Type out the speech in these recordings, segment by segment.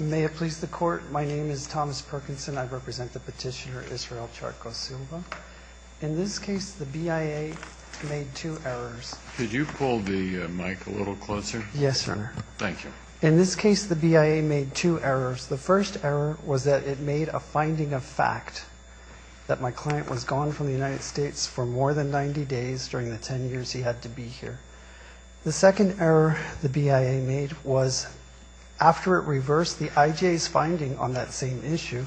May it please the Court, my name is Thomas Perkinson. I represent the petitioner Israel Charco-Silva. In this case, the BIA made two errors. In this case, the BIA made two errors. The first error was that it made a finding of fact that my client was gone from the United States for more than 90 days during the 10 years he had to be here. The second error the BIA made was after it reversed the IJ's finding on that same issue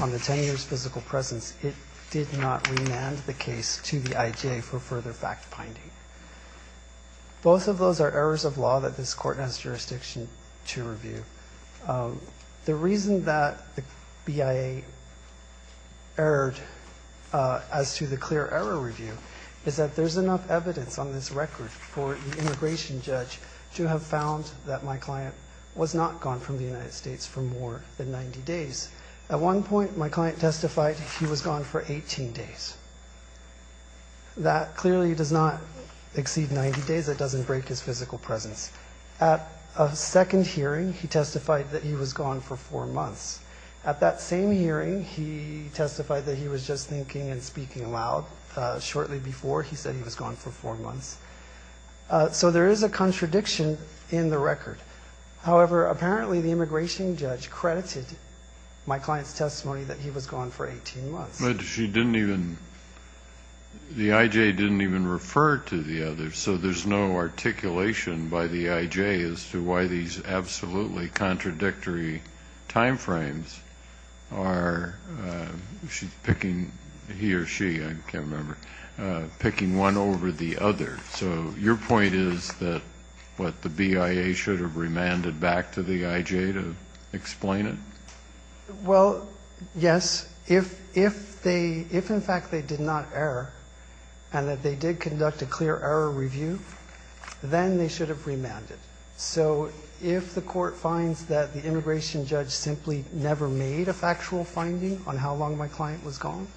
on the 10 years physical presence, it did not remand the case to the IJ for further fact finding. Both of those are errors of law that this Court has jurisdiction to review. The reason that the BIA erred as to the clear error review is that there's enough evidence on this record for the immigration judge to have found that my client was not gone from the United States for more than 90 days. At one point, my client testified he was gone for 18 days. That clearly does not exceed 90 days. It doesn't break his physical presence. At a second hearing, he testified that he was gone for four months. At that same hearing, he testified that he was just thinking and speaking aloud. Shortly before, he said he was gone for four months. So there is a contradiction in the record. However, apparently the immigration judge credited my client's testimony that he was gone for 18 months. The IJ didn't even refer to the others, so there's no articulation by the IJ as to why these are the errors. Kennedy, I'm sorry to interrupt you, but you said that the BIA erred over the other. So your point is that what the BIA should have remanded back to the IJ to explain it? Well, yes. If they – if, in fact, they did not err and that they did conduct a clear error review, then they should have remanded. So if the Court finds that the immigration judge simply never made a factual finding on how long my client was gone,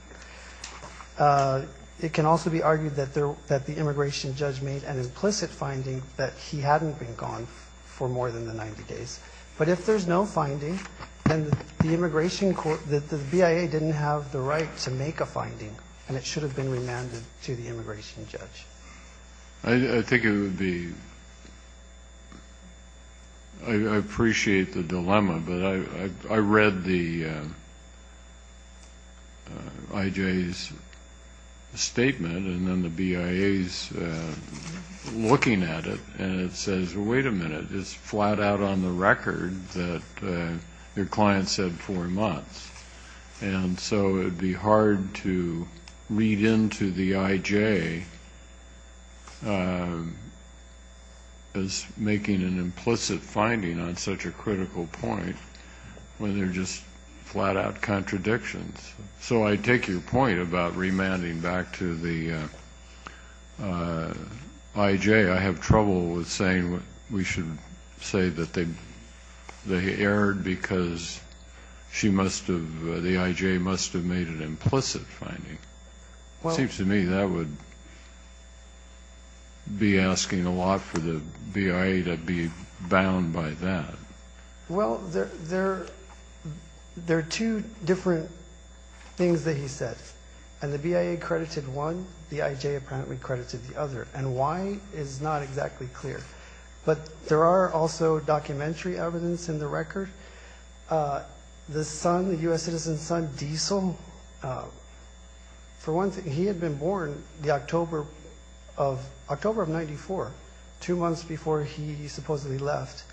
it can also be argued that the immigration judge made an implicit finding that he hadn't been gone for more than the 90 days. But if there's no finding, then the immigration – the BIA didn't have the right to make a finding, and it should have been remanded to the immigration judge. I think it would be – I appreciate the dilemma, but I read the IJ's statement, and then the BIA's looking at it, and it says, wait a minute, it's flat out on the record that your client said four months. And so it would be hard to read into the IJ as making an implicit finding on such a critical point when they're just flat-out contradictions. So I take your point about remanding back to the IJ. I have trouble with saying we should say that they erred because she must have – the IJ must have made an implicit finding. It seems to me that would be asking a lot for the BIA to be bound by that. Well, there are two different things that he said. And the BIA credited one, the IJ apparently credited the other. And why is not exactly clear. But there are also documentary evidence in the record. The son, the U.S. citizen's son, Diesel, for one thing, he had been born the October of – October of 94, two months before he supposedly left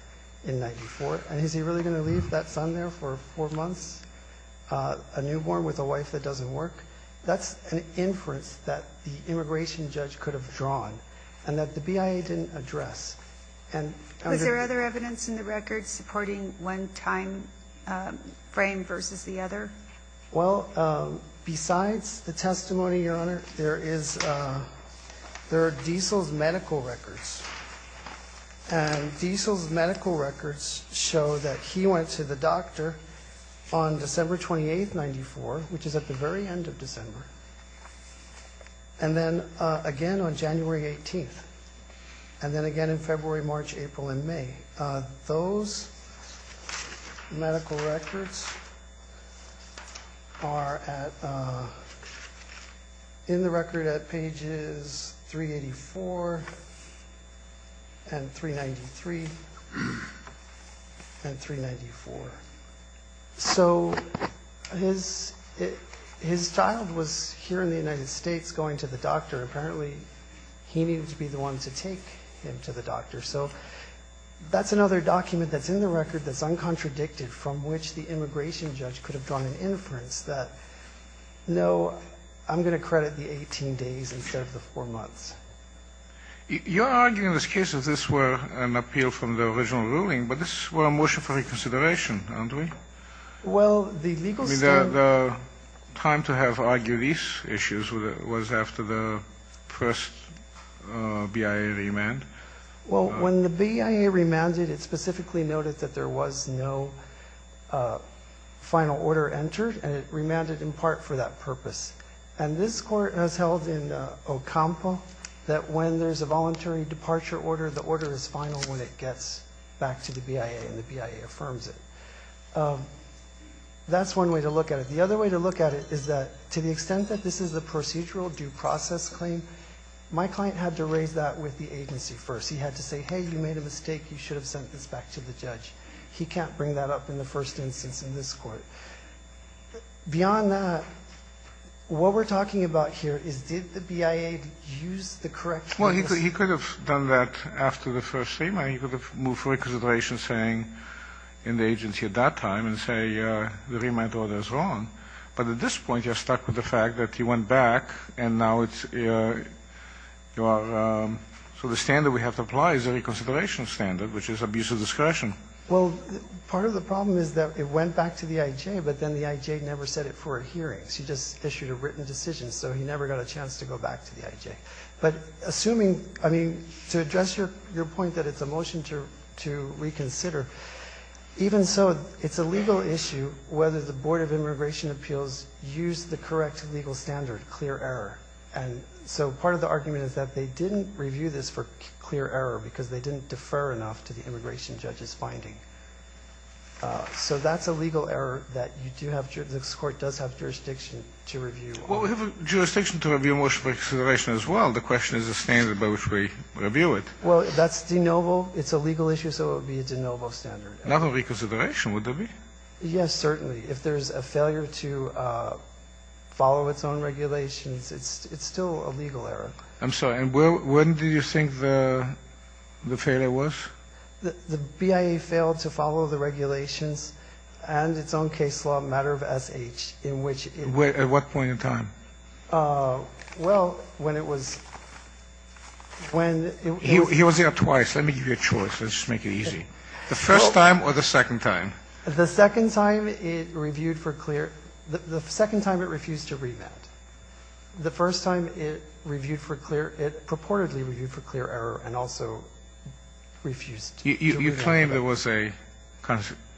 in 94. And is he really going to leave that son there for four months, a newborn with a wife that doesn't work? That's an inference that the immigration judge could have drawn and that the BIA didn't address. And under – Was there other evidence in the record supporting one timeframe versus the other? Well, besides the testimony, Your Honor, there is – there are Diesel's medical records. And Diesel's medical records show that he went to the doctor on December 28th, 94, which is at the very end of December. And then again on January 18th. And then again in February, March, April, and May. Those medical records are at – in the record at 394. So his – his child was here in the United States going to the doctor. Apparently he needed to be the one to take him to the doctor. So that's another document that's in the record that's uncontradicted from which the immigration judge could have drawn an inference that, no, I'm going to credit the 18 days instead of the four months. You're arguing in this case that this were an appeal from the original ruling, but this was a motion for reconsideration, aren't we? Well, the legal – I mean, the time to have argued these issues was after the first BIA remand. Well, when the BIA remanded, it specifically noted that there was no final order entered, and it remanded in part for that purpose. And this court has held in Ocampo that when there's a voluntary departure order, the order is final when it gets back to the BIA and the BIA affirms it. That's one way to look at it. The other way to look at it is that to the extent that this is a procedural due process claim, my client had to raise that with the agency first. He had to say, hey, you made a mistake. You should have sent this back to the judge. He can't bring that up in the first instance in this court. Beyond that, what we're talking about here is did the BIA use the correct – Well, he could have done that after the first remand. He could have moved for reconsideration saying in the agency at that time and say the remand order is wrong. But at this point, you're stuck with the fact that he went back, and now it's your – so the standard we have to apply is a reconsideration standard, which is abuse of discretion. Well, part of the problem is that it went back to the IJ, but then the IJ never said it for a hearing. She just issued a written decision, so he never got a chance to go back to the IJ. But assuming – I mean, to address your point that it's a motion to reconsider, even so, it's a legal issue whether the Board of Immigration Appeals used the correct legal standard, clear error. And so part of the argument is that they didn't review this for finding. So that's a legal error that you do have – this Court does have jurisdiction to review. Well, we have a jurisdiction to review a motion for reconsideration as well. The question is the standard by which we review it. Well, that's de novo. It's a legal issue, so it would be a de novo standard. Not a reconsideration, would there be? Yes, certainly. If there's a failure to follow its own regulations, it's still a legal error. I'm sorry. And when do you think the failure was? The BIA failed to follow the regulations and its own case law, matter of SH, in which it – At what point in time? Well, when it was – when it was – He was here twice. Let me give you a choice. Let's just make it easy. The first time or the second time? The second time, it reviewed for clear – the second time, it refused to remand. The first time, it reviewed for clear – it purportedly reviewed for clear error and also refused to remand. You claim there was a –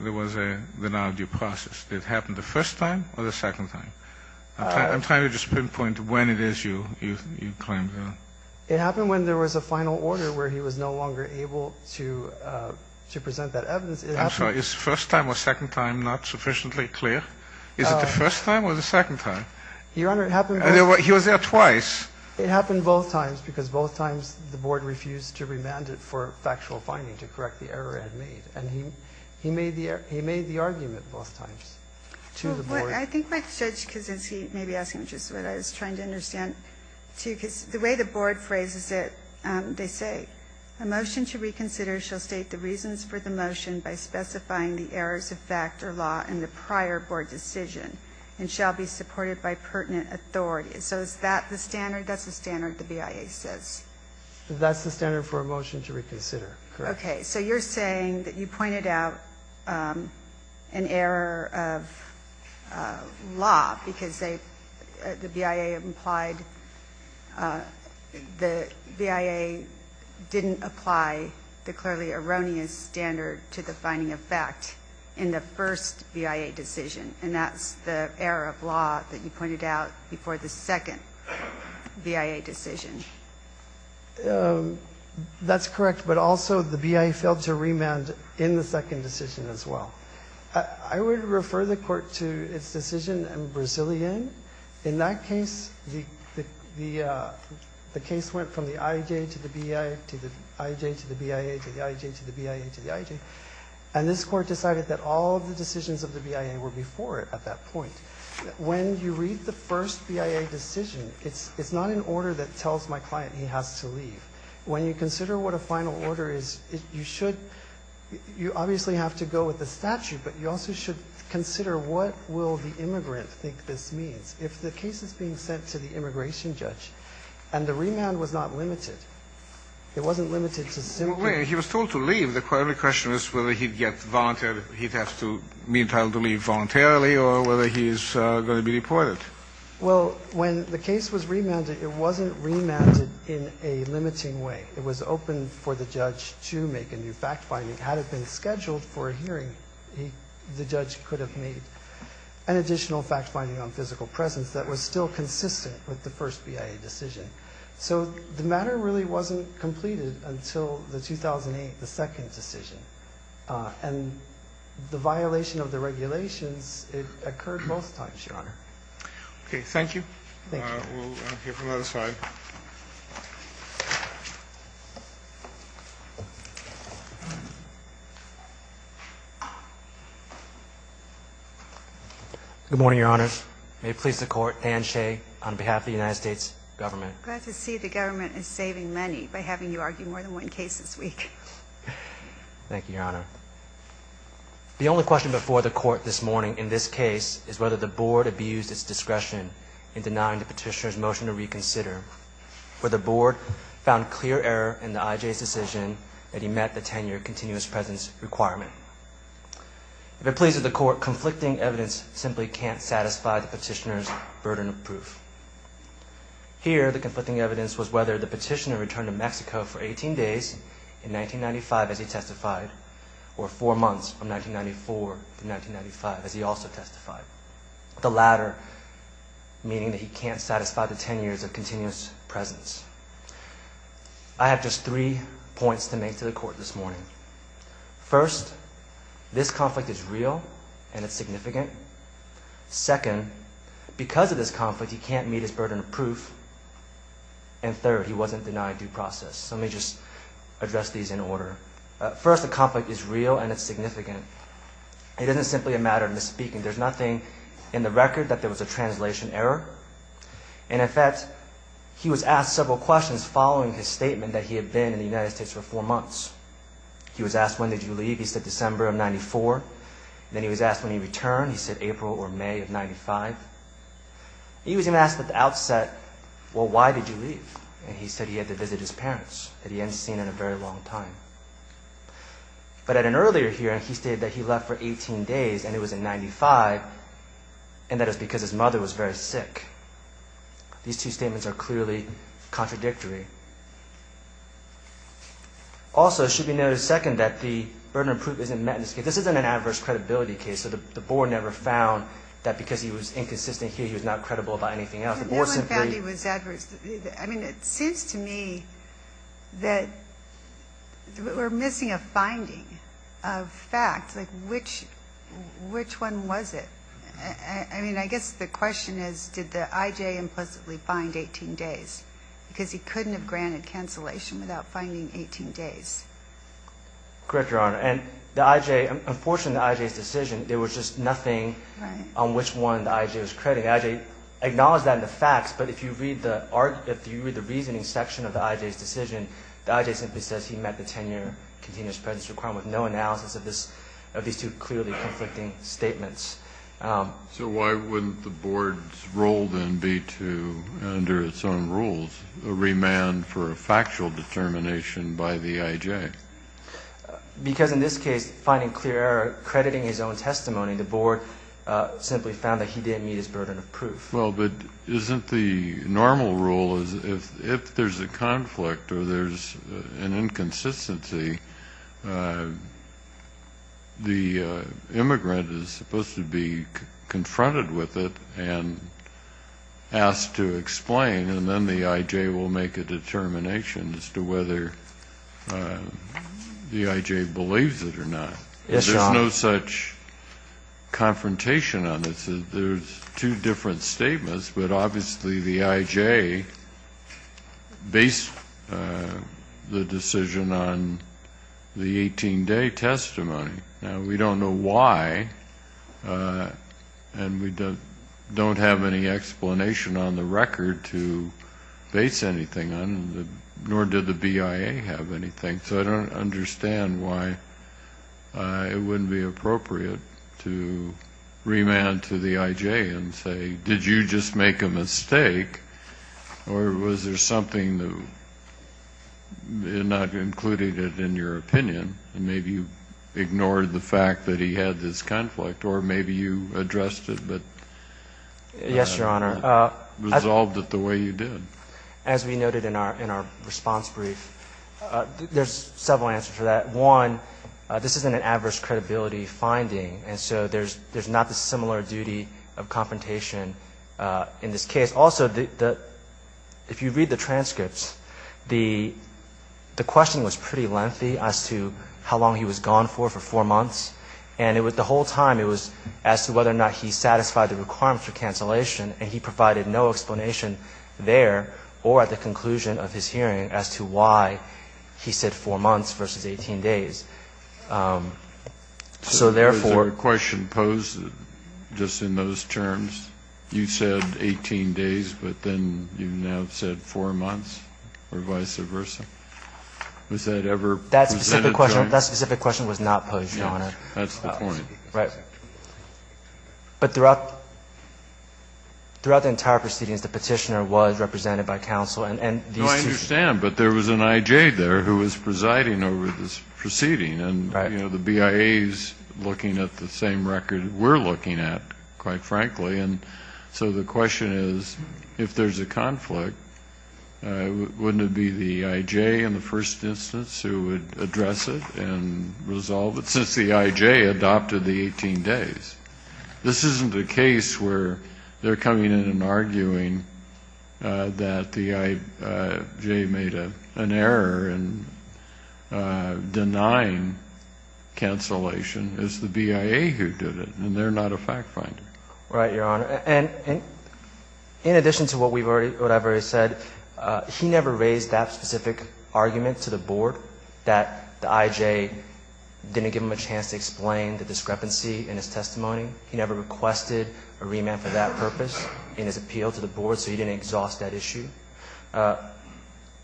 there was the non-due process. Did it happen the first time or the second time? I'm trying to just pinpoint when it is you claim that. It happened when there was a final order where he was no longer able to present that evidence. It happened – I'm sorry. Is first time or second time not sufficiently clear? Is it the first time or the second time? Your Honor, it happened – He was there twice. It happened both times because both times the board refused to remand it for factual finding to correct the error it had made. And he made the – he made the argument both times to the board. I think my judge, because as he may be asking, which is what I was trying to understand too, because the way the board phrases it, they say, a motion to reconsider shall state the reasons for the motion by specifying the errors of fact or law in the prior board decision and shall be supported by pertinent authorities. So is that the standard? That's the standard the BIA says? That's the standard for a motion to reconsider, correct. Okay. So you're saying that you pointed out an error of law because they – the BIA implied – the BIA didn't apply the clearly erroneous standard to the finding of fact in the first BIA decision. And that's the error of law that you pointed out before the second BIA decision. That's correct. But also the BIA failed to remand in the second decision as well. I would refer the court to its decision in Brazilian. In that case, the case went from the IJ to the BIA to the IJ to the BIA to the IJ to the BIA to the IJ. And this court decided that all of the decisions of the BIA were before it at that point. When you read the first BIA decision, it's not an order that tells my client he has to leave. When you consider what a final order is, you should – you obviously have to go with the statute, but you also should consider what will the immigrant think this means. If the case is being sent to the immigration judge and the remand was not limited, it wasn't limited to simply – Well, wait a minute. He was told to leave. The question is whether he'd get voluntarily or whether he's going to be deported. Well, when the case was remanded, it wasn't remanded in a limiting way. It was open for the judge to make a new fact-finding. Had it been scheduled for a hearing, the judge could have made an additional fact-finding on physical presence that was still consistent with the first BIA decision. So the matter really wasn't completed until the 2008, the second decision. And the violation of the regulations, it occurred both times, Your Honor. Okay. Thank you. We'll hear from the other side. Good morning, Your Honor. May it please the Court, Dan Shea on behalf of the United States Government. Glad to see the government is saving money by having you argue more than one case this week. Thank you, Your Honor. The only question before the Court this morning in this case is whether the Board abused its discretion in denying the Petitioner's motion to reconsider, whether the Board found clear error in the IJ's decision that he met the tenure continuous presence requirement. If it pleases the Court, conflicting evidence simply can't satisfy the Petitioner's burden of evidence was whether the Petitioner returned to Mexico for 18 days in 1995 as he testified or four months from 1994 to 1995 as he also testified. The latter meaning that he can't satisfy the tenures of continuous presence. I have just three points to make to the Court this morning. First, this conflict is real and it's significant. Second, because of this conflict, he can't meet his burden of proof. And third, he wasn't denied due process. So let me just address these in order. First, the conflict is real and it's significant. It isn't simply a matter of misspeaking. There's nothing in the record that there was a translation error. And in fact, he was asked several questions following his statement that he had been in the United States for four months. He was asked, When did you leave? He said, December of 94. Then he was asked when he was asked at the outset, Well, why did you leave? And he said he had to visit his parents that he hadn't seen in a very long time. But at an earlier hearing, he stated that he left for 18 days and it was in 95 and that it was because his mother was very sick. These two statements are clearly contradictory. Also, it should be noted, second, that the burden of proof isn't met in this case. This isn't an adverse credibility case. So the Board never found that because he was inconsistent here, he was not credible about anything else. No one found he was adverse. I mean, it seems to me that we're missing a finding of fact. Like, which one was it? I mean, I guess the question is, did the I.J. implicitly find 18 days? Because he couldn't have granted cancellation without finding 18 days. Correct, Your Honor. And the I.J., unfortunately, in the I.J.'s decision, there was just nothing on which one the I.J. was crediting. The I.J. acknowledged that in the facts, but if you read the reasoning section of the I.J.'s decision, the I.J. simply says he met the 10-year continuous presence requirement with no analysis of these two clearly conflicting statements. So why wouldn't the Board's role then be to, under its own rules, remand for a factual determination by the I.J.? Because in this case, finding clear error, crediting his own testimony, the Well, but isn't the normal rule is, if there's a conflict or there's an inconsistency, the immigrant is supposed to be confronted with it and asked to explain, and then the I.J. will make a determination as to whether the I.J. Yes, Your Honor. There's no such confrontation on this. There's two different statements, but obviously the I.J. based the decision on the 18-day testimony. Now, we don't know why, and we don't have any explanation on the record to base anything on, nor did the BIA have anything, so I don't understand why it wouldn't be appropriate to remand to the I.J. and say, did you just make a mistake or was there something that not included it in your opinion, and maybe you ignored the fact that he had this conflict, or maybe you addressed it but resolved it the way you did. As we noted in our response brief, there's several answers to that. One, this isn't an adverse credibility finding, and so there's not the similar duty of confrontation in this case. Also, if you read the transcripts, the question was pretty lengthy as to how long he was gone for, for four months, and the whole time it was as to whether or not he satisfied the requirement for cancellation, and he provided no explanation there or at the conclusion of his hearing as to why he said four months versus 18 days. So, therefore ---- Kennedy, was there a question posed just in those terms? You said 18 days, but then you now said four months or vice versa? Was that ever presented to him? That specific question was not posed, Your Honor. Yes. That's the point. Right. But throughout the entire proceedings, the Petitioner was represented by counsel, and these two ---- I understand, but there was an I.J. there who was presiding over this proceeding, and, you know, the BIA is looking at the same record we're looking at, quite frankly, and so the question is, if there's a conflict, wouldn't it be the I.J. in the first instance who would address it and resolve it, since the I.J. adopted the 18 days? This isn't a case where they're coming in and arguing that the I.J. made an error in denying cancellation. It's the BIA who did it, and they're not a fact-finder. Right, Your Honor. And in addition to what I've already said, he never raised that specific argument to the Board that the I.J. didn't give him a chance to explain the discrepancy in his testimony. He never requested a remand for that brief.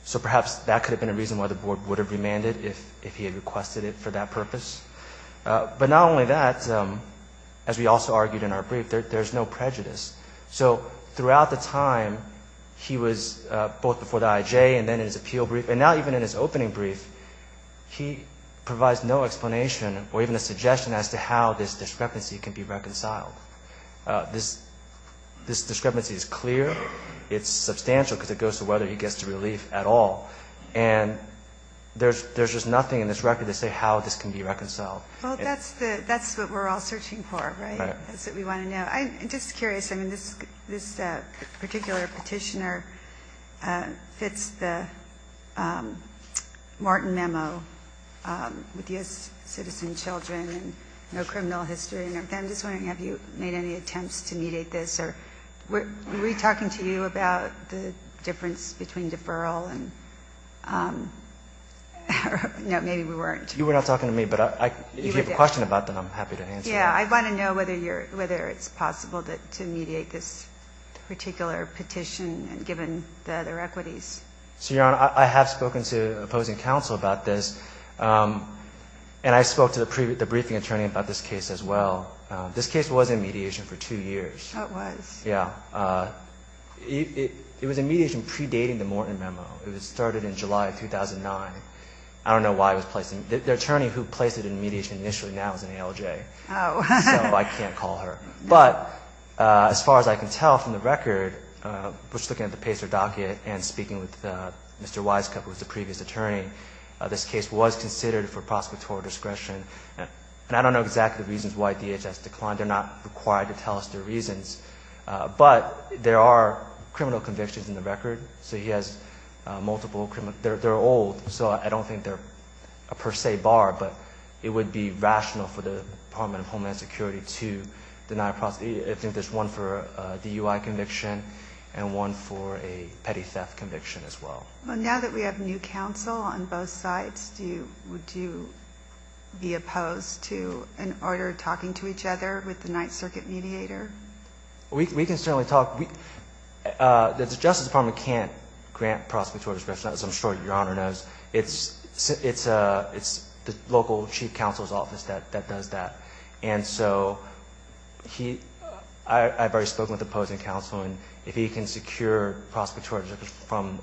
So perhaps that could have been a reason why the Board would have remanded if he had requested it for that purpose. But not only that, as we also argued in our brief, there's no prejudice. So throughout the time he was both before the I.J. and then in his appeal brief, and now even in his opening brief, he provides no explanation or even a suggestion as to how this discrepancy can be reconciled. This discrepancy is clear. It's substantial because it goes to whether he gets the relief at all. And there's just nothing in this record to say how this can be reconciled. Well, that's what we're all searching for, right? That's what we want to know. I'm just curious. I mean, this particular petitioner fits the Martin memo with U.S. citizen children and no criminal history and everything. I'm just wondering, have you made any attempts to mediate this? Or were we talking to you about the difference between deferral and no, maybe we weren't. You were not talking to me, but if you have a question about that, I'm happy to answer that. Yeah. I want to know whether it's possible to mediate this particular petition given the other equities. So, Your Honor, I have spoken to opposing counsel about this. And I spoke to the briefing attorney about this case as well. This case was in mediation for two years. It was. Yeah. It was in mediation predating the Morton memo. It was started in July of 2009. I don't know why it was placed in mediation. The attorney who placed it in mediation initially now is an ALJ. So I can't call her. But as far as I can tell from the record, just looking at the PACER docket and speaking with Mr. Wisecup, who was the previous attorney, this case was considered for prosecutorial discretion. And I don't know exactly the reasons why DHS declined. They're not but there are criminal convictions in the record. So he has multiple criminal they're old. So I don't think they're a per se bar, but it would be rational for the Department of Homeland Security to deny a prosecution. I think there's one for a DUI conviction and one for a petty theft conviction as well. Well, now that we have new counsel on both sides, would you be opposed to an order talking to each other with the Ninth Circuit mediator? We can certainly talk. The Justice Department can't grant prosecutorial discretion, as I'm sure Your Honor knows. It's the local chief counsel's office that does that. And so I've already spoken with the opposing counsel and if he can secure prosecutorial discretion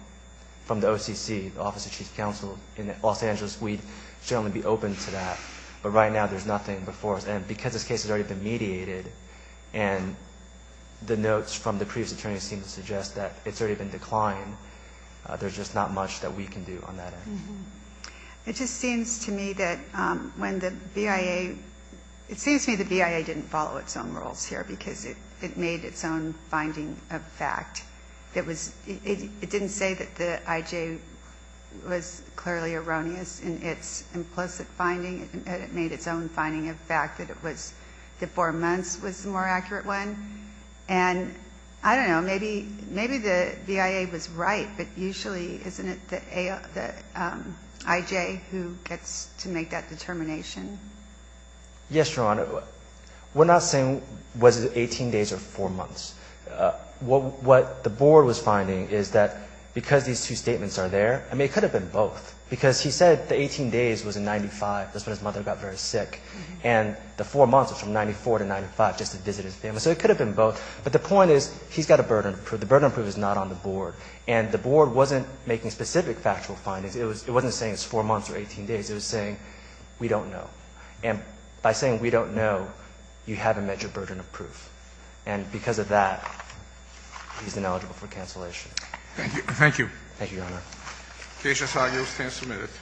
from the OCC, the Office of Chief Counsel in Los Angeles, we'd certainly be open to that. But right now there's nothing before us. And because this case has already been mediated and the notes from the previous attorneys seem to suggest that it's already been declined, there's just not much that we can do on that end. It just seems to me that when the BIA, it seems to me the BIA didn't follow its own rules here because it made its own finding of fact. It didn't say that the IJ was clearly erroneous in its implicit finding. It made its own finding of fact. That it was the four months was the more accurate one. And I don't know, maybe the BIA was right, but usually isn't it the IJ who gets to make that determination? Yes, Your Honor. We're not saying was it 18 days or four months. What the board was finding is that because these two statements are there, I mean it could have been both because he said the 18 days was in 95, that's when his mother got very sick, and the four months was from 94 to 95 just to visit his family. So it could have been both. But the point is he's got a burden of proof. The burden of proof is not on the board. And the board wasn't making specific factual findings. It wasn't saying it's four months or 18 days. It was saying we don't know. And by saying we don't know, you haven't met your burden of proof. And because of that, he's ineligible for cancellation. Thank you. Thank you, Your Honor. The case is argued. It stands submitted.